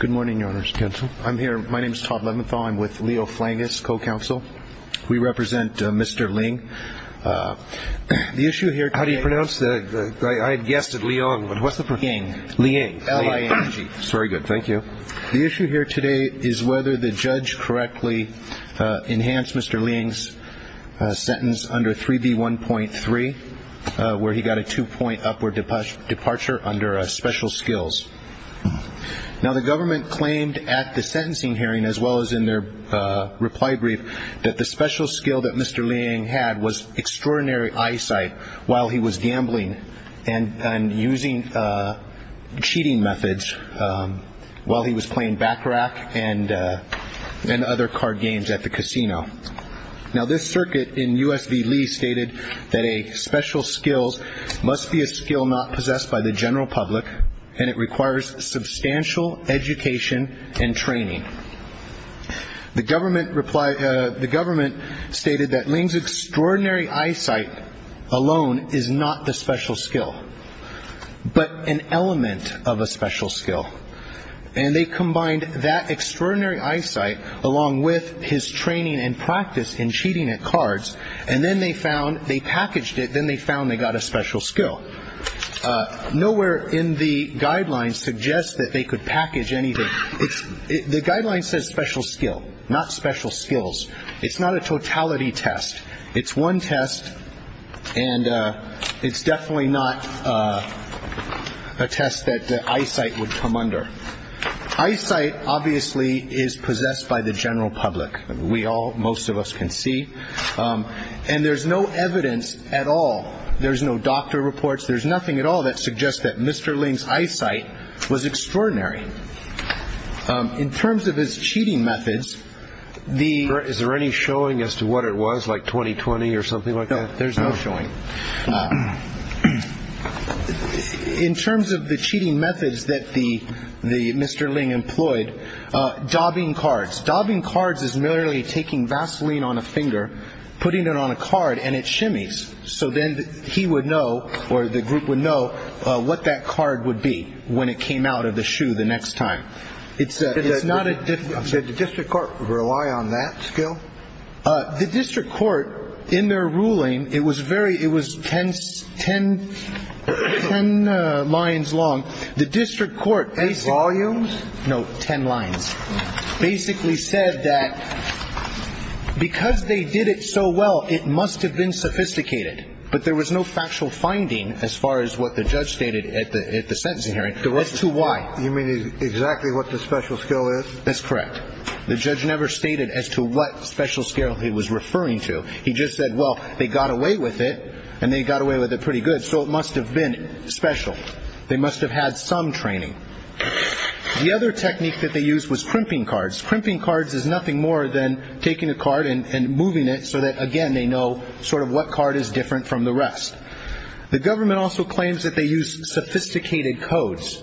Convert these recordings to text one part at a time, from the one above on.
Good morning, Your Honor's counsel. I'm here. My name is Todd Leventhal. I'm with Leo Flangus, co-counsel. We represent Mr. Ling. The issue here today- How do you pronounce the- I had guessed it, Liang, but what's the- Ling. Ling. L-I-N-G. That's very good. Thank you. The issue here today is whether the judge correctly enhanced Mr. Ling's sentence under 3B1.3, where he got a two-point upward departure under special skills. Now, the government claimed at the sentencing hearing, as well as in their reply brief, that the special skill that Mr. Ling had was extraordinary eyesight while he was gambling and using cheating methods while he was playing back rack and other card games at the casino. Now, this circuit in U.S. v. Lee stated that a special skill must be a skill not possessed by the general public, and it requires substantial education and training. The government replied- The government stated that Ling's extraordinary eyesight alone is not the special skill, but an element of a special skill. And they combined that extraordinary eyesight along with his training and practice in cheating at cards, and then they found- they packaged it, then they found they got a special skill. Nowhere in the guidelines suggests that they could package anything. The guideline says special skill, not special skills. It's not a totality test. It's one test, and it's definitely not a test that eyesight would come under. Eyesight, obviously, is possessed by the general public. We all- most of us can see. And there's no evidence at all. There's no doctor reports. There's nothing at all that suggests that Mr. Ling's eyesight was extraordinary. In terms of his cheating methods, the- Is there any showing as to what it was, like 20-20 or something like that? No, there's no showing. In terms of the cheating methods that the- Mr. Ling employed, dobbing cards. Dobbing cards is merely taking Vaseline on a finger, putting it on a card, and it shimmies. So then he would know, or the group would know, what that card would be when it came out of the shoe the next time. It's not a- Did the district court rely on that skill? The district court, in their ruling, it was very- it was ten lines long. The district court- In volumes? No, ten lines. Basically said that because they did it so well, it must have been sophisticated. But there was no factual finding as far as what the judge stated at the sentencing hearing as to why. You mean exactly what the special skill is? That's correct. The judge never stated as to what special skill he was referring to. He just said, well, they got away with it, and they got away with it pretty good, so it must have been special. They must have had some training. The other technique that they used was crimping cards. Crimping cards is nothing more than taking a card and moving it so that, again, they know sort of what card is different from the rest. The government also claims that they used sophisticated codes.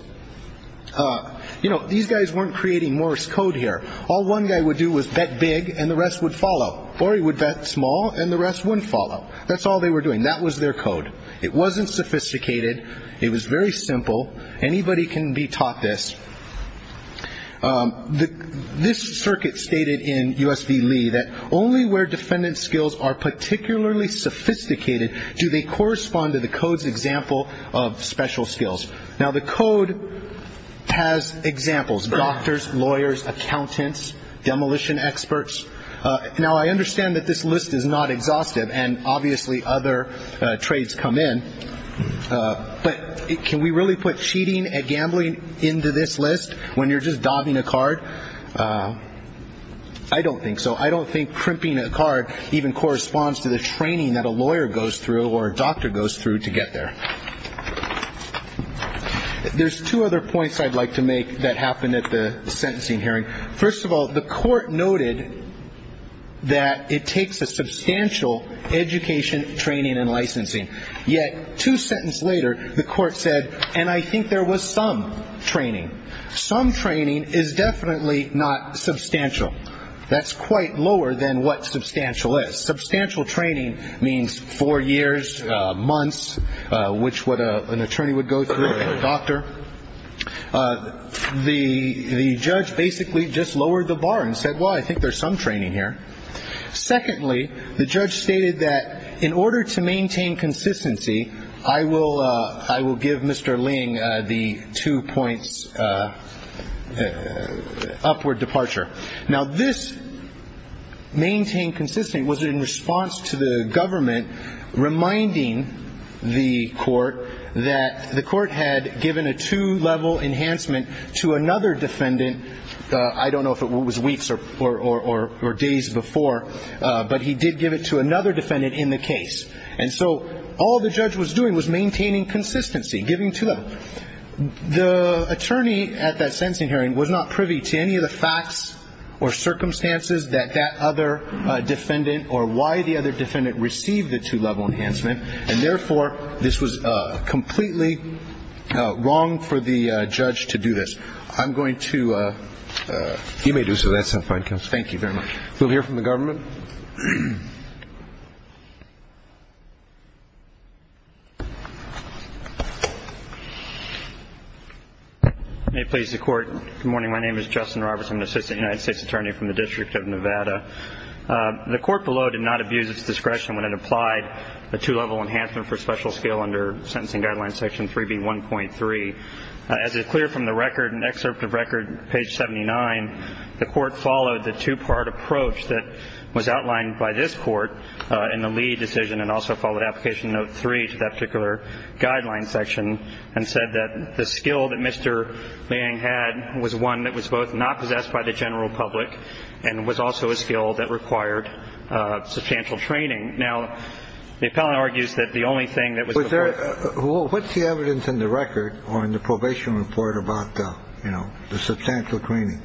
You know, these guys weren't creating Morse code here. All one guy would do was bet big, and the rest would follow. Or he would bet small, and the rest wouldn't follow. That's all they were doing. That was their code. It wasn't sophisticated. It was very simple. Anybody can be taught this. This circuit stated in U.S. v. Lee that only where defendant's skills are particularly sophisticated do they correspond to the code's example of special skills. Now, the code has examples, doctors, lawyers, accountants, demolition experts. Now, I understand that this list is not exhaustive, and obviously other trades come in. But can we really put cheating and gambling into this list when you're just dobbing a card? I don't think so. I don't think crimping a card even corresponds to the training that a lawyer goes through or a doctor goes through to get there. There's two other points I'd like to make that happened at the sentencing hearing. First of all, the court noted that it takes a substantial education, training, and licensing. Yet two sentences later, the court said, and I think there was some training. Some training is definitely not substantial. That's quite lower than what substantial is. Substantial training means four years, months, which what an attorney would go through, a doctor. The judge basically just lowered the bar and said, well, I think there's some training here. Secondly, the judge stated that in order to maintain consistency, I will give Mr. Ling the two points upward departure. Now, this maintain consistency was in response to the government reminding the court that the court had given a two-level enhancement to another defendant. I don't know if it was weeks or days before, but he did give it to another defendant in the case. And so all the judge was doing was maintaining consistency, giving two-level. The attorney at that sentencing hearing was not privy to any of the facts or circumstances that that other defendant or why the other defendant received the two-level enhancement, and therefore, this was completely wrong for the judge to do this. I'm going to. You may do so. That's fine. Thank you very much. We'll hear from the government. May it please the court. Good morning. My name is Justin Roberts. I'm an assistant United States attorney from the District of Nevada. The court below did not abuse its discretion when it applied a two-level enhancement for special skill under sentencing guideline section 3B1.3. As is clear from the record, excerpt of record page 79, the court followed the two-part approach that was outlined by this court in the Lee decision and also followed application note 3 to that particular guideline section and said that the skill that Mr. Lee had was one that was both not possessed by the general public and was also a skill that required substantial training. Now, the appellant argues that the only thing that was there. What's the evidence in the record or in the probation report about, you know, the substantial training?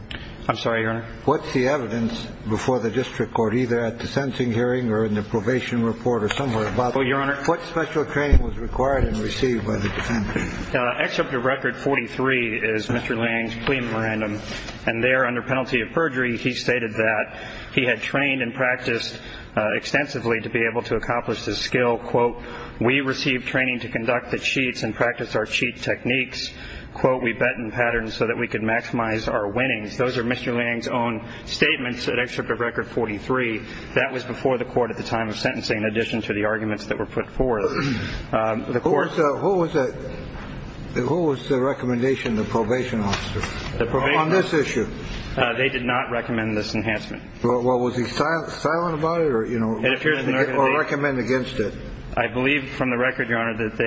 I'm sorry, Your Honor. What's the evidence before the district court, either at the sentencing hearing or in the probation report or somewhere? Your Honor. What special training was required and received by the defense? Excerpt of record 43 is Mr. Lange's claim at random. And there, under penalty of perjury, he stated that he had trained and practiced extensively to be able to accomplish this skill. Quote, We received training to conduct the cheats and practice our cheat techniques. Quote, We bet in patterns so that we could maximize our winnings. Those are Mr. Lange's own statements. An excerpt of record 43. That was before the court at the time of sentencing. In addition to the arguments that were put forward, the court. Who was that? Who was the recommendation? The probation officer. The probation officer. On this issue. They did not recommend this enhancement. Well, was he silent about it or, you know, or recommend against it? I believe from the record, Your Honor, that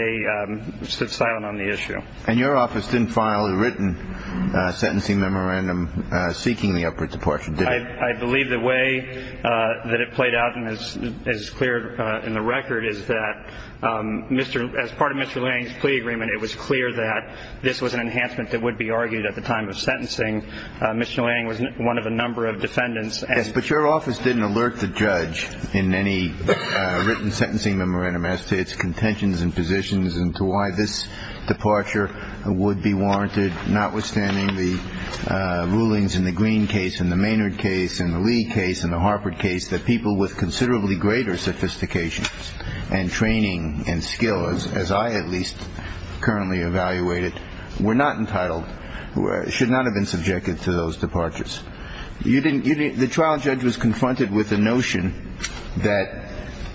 they stood silent on the issue. And your office didn't file a written sentencing memorandum seeking the upward departure, did it? I believe the way that it played out and is clear in the record is that, as part of Mr. Lange's plea agreement, it was clear that this was an enhancement that would be argued at the time of sentencing. Mr. Lange was one of a number of defendants. But your office didn't alert the judge in any written sentencing memorandum as to its contentions and positions and to why this departure would be warranted, notwithstanding the rulings in the Green case, in the Maynard case, in the Lee case, in the Harper case, that people with considerably greater sophistication and training and skills, as I at least currently evaluate it, were not entitled, should not have been subjected to those departures. The trial judge was confronted with the notion that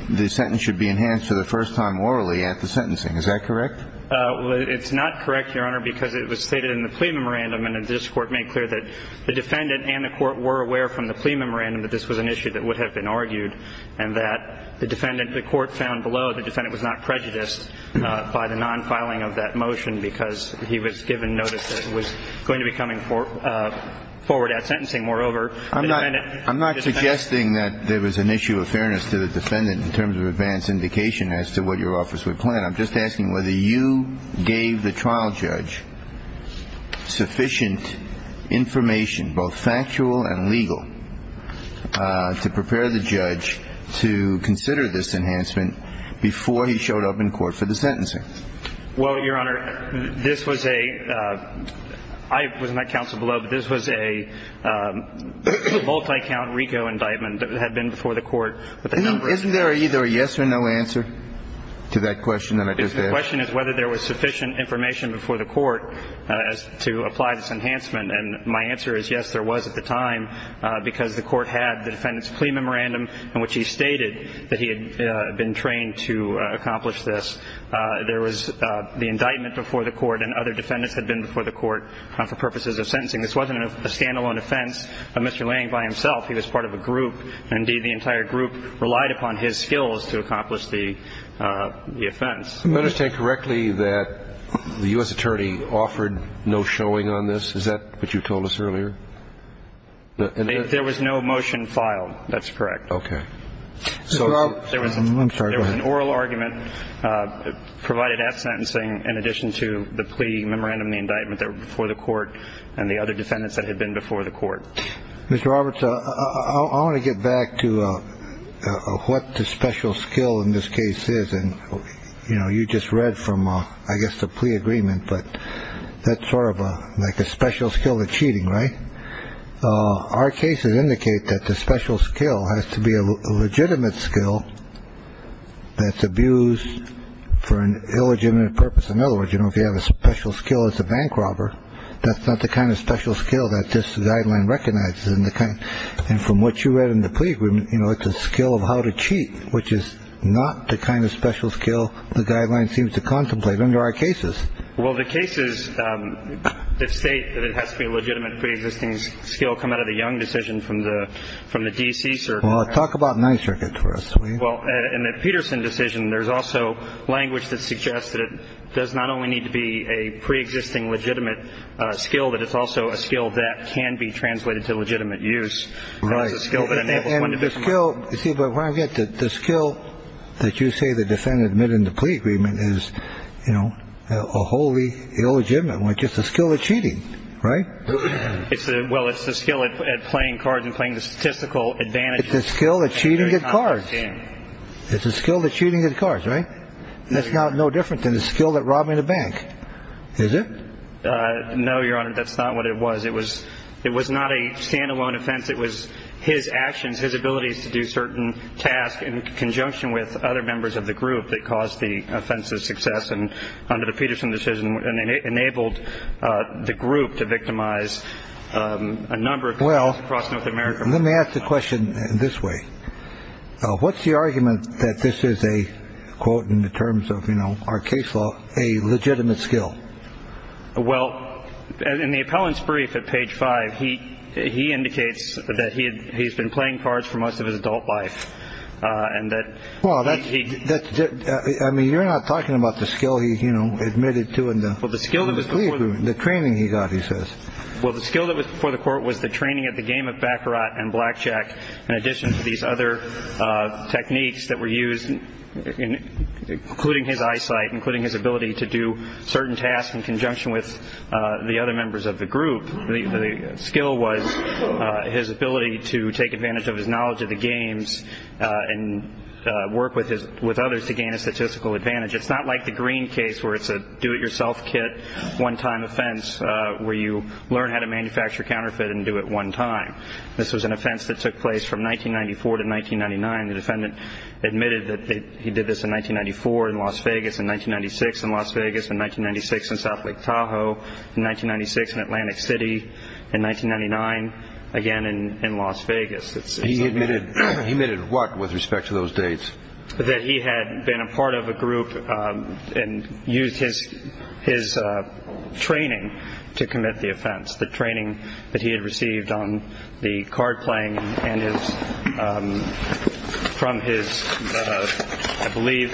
the sentence should be enhanced for the first time orally at the sentencing. Is that correct? Well, it's not correct, Your Honor, because it was stated in the plea memorandum and the district court made clear that the defendant and the court were aware from the plea memorandum that this was an issue that would have been argued and that the defendant, the court found below the defendant was not prejudiced by the non-filing of that motion because he was given notice that it was going to be coming forward at sentencing. Moreover, the defendant – I'm not suggesting that there was an issue of fairness to the defendant in terms of advance indication as to what your office would plan. I'm just asking whether you gave the trial judge sufficient information, both factual and legal, to prepare the judge to consider this enhancement before he showed up in court for the sentencing. Well, Your Honor, this was a – I was not counsel below, but this was a multi-count RICO indictment that had been before the court. Isn't there either a yes or no answer to that question that I just asked? The question is whether there was sufficient information before the court to apply this enhancement. And my answer is yes, there was at the time, because the court had the defendant's plea memorandum in which he stated that he had been trained to accomplish this. There was the indictment before the court and other defendants had been before the court for purposes of sentencing. This wasn't a stand-alone offense of Mr. Lange by himself. He was part of a group. Indeed, the entire group relied upon his skills to accomplish the offense. I understand correctly that the U.S. attorney offered no showing on this. Is that what you told us earlier? There was no motion filed. That's correct. Okay. So there was an oral argument provided at sentencing in addition to the plea memorandum, the indictment that were before the court and the other defendants that had been before the court. Mr. Roberts, I want to get back to what the special skill in this case is. And, you know, you just read from, I guess, the plea agreement. But that's sort of like a special skill of cheating, right? Our cases indicate that the special skill has to be a legitimate skill that's abused for an illegitimate purpose. In other words, you know, if you have a special skill as a bank robber, that's not the kind of special skill that this guideline recognizes. And from what you read in the plea agreement, you know, it's a skill of how to cheat, which is not the kind of special skill the guideline seems to contemplate under our cases. Well, the cases that state that it has to be a legitimate preexisting skill come out of the Young decision from the from the D.C. Well, talk about nine circuits for us. Well, in the Peterson decision, there's also language that suggests that it does not only need to be a preexisting legitimate skill, but it's also a skill that can be translated to legitimate use. And the skill that you say the defendant admitted in the plea agreement is, you know, a wholly illegitimate one. Just a skill of cheating. Right. Well, it's the skill at playing cards and playing the statistical advantage. It's a skill that cheating at cards. It's a skill that cheating at cards. Right. That's not no different than the skill that robbing the bank. Is it? No, Your Honor. That's not what it was. It was it was not a standalone offense. It was his actions, his abilities to do certain tasks in conjunction with other members of the group that caused the offensive success. And under the Peterson decision enabled the group to victimize a number of well across North America. Let me ask the question this way. What's the argument that this is a quote in the terms of, you know, our case law, a legitimate skill? Well, in the appellant's brief at page five, he he indicates that he he's been playing cards for most of his adult life and that. Well, that's it. I mean, you're not talking about the skill he, you know, admitted to. Well, the skill that was the training he got, he says. Well, the skill that was for the court was the training at the game of backer and blackjack. In addition to these other techniques that were used, including his eyesight, including his ability to do certain tasks in conjunction with the other members of the group. The skill was his ability to take advantage of his knowledge of the games and work with his with others to gain a statistical advantage. It's not like the green case where it's a do it yourself kit one time offense where you learn how to manufacture counterfeit and do it one time. This was an offense that took place from 1994 to 1999. The defendant admitted that he did this in 1994 in Las Vegas, in 1996 in Las Vegas, in 1996 in South Lake Tahoe, in 1996 in Atlantic City, in 1999. Again, in Las Vegas, he admitted he made it work with respect to those dates that he had been a part of a group and used his his training to commit the offense. The training that he had received on the card playing and his from his, I believe,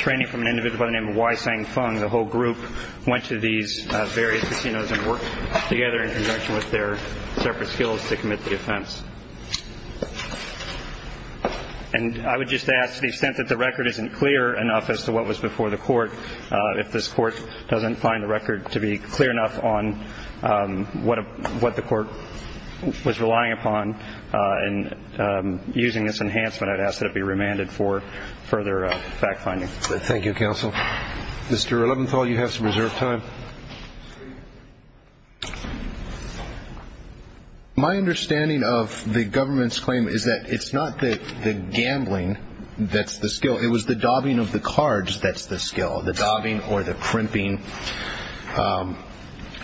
training from an individual by the name of Y Sang Fung. The whole group went to these various casinos and worked together in conjunction with their separate skills to commit the offense. And I would just ask the extent that the record isn't clear enough as to what was before the court. If this court doesn't find the record to be clear enough on what what the court was relying upon and using this enhancement, I'd ask that it be remanded for further fact finding. Thank you, counsel. Mr. Eleventhall, you have some reserve time. My understanding of the government's claim is that it's not the gambling that's the skill. It was the daubing of the cards. That's the skill of the daubing or the crimping.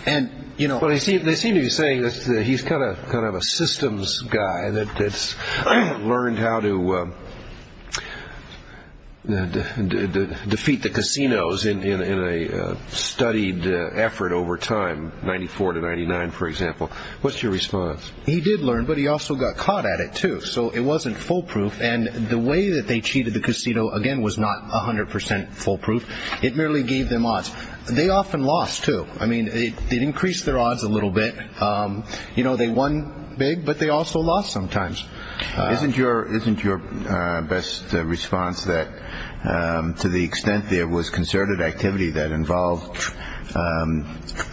They seem to be saying that he's kind of a systems guy that's learned how to defeat the casinos in a studied effort over time, 94 to 99, for example. What's your response? He did learn, but he also got caught at it, too. So it wasn't foolproof. And the way that they cheated the casino, again, was not 100 percent foolproof. It merely gave them odds. They often lost, too. I mean, it increased their odds a little bit. You know, they won big, but they also lost sometimes. Isn't your isn't your best response that to the extent there was concerted activity that involved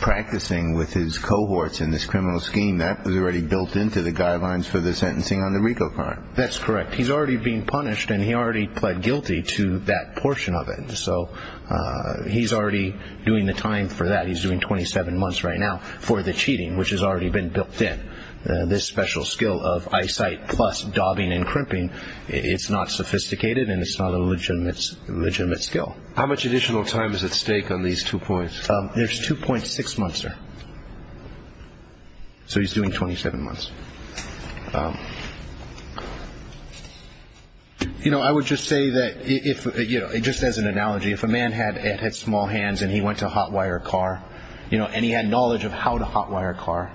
practicing with his cohorts in this criminal scheme? That was already built into the guidelines for the sentencing on the Rico card. That's correct. He's already being punished and he already pled guilty to that portion of it. So he's already doing the time for that. He's doing 27 months right now for the cheating, which has already been built in this special skill of eyesight plus daubing and crimping. It's not sophisticated and it's not a legitimate, legitimate skill. How much additional time is at stake on these two points? There's two point six months. So he's doing 27 months. You know, I would just say that if you know, just as an analogy, if a man had had small hands and he went to hot wire car, you know, and he had knowledge of how to hot wire car,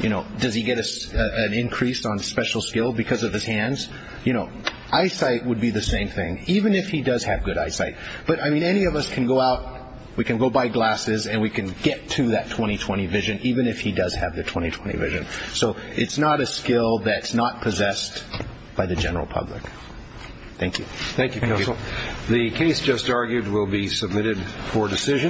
you know, does he get an increase on special skill because of his hands? You know, eyesight would be the same thing, even if he does have good eyesight. But I mean, any of us can go out, we can go buy glasses and we can get to that 20, 20 vision, even if he does have the 20, 20 vision. So it's not a skill that's not possessed by the general public. Thank you. Thank you. The case just argued will be submitted for decision.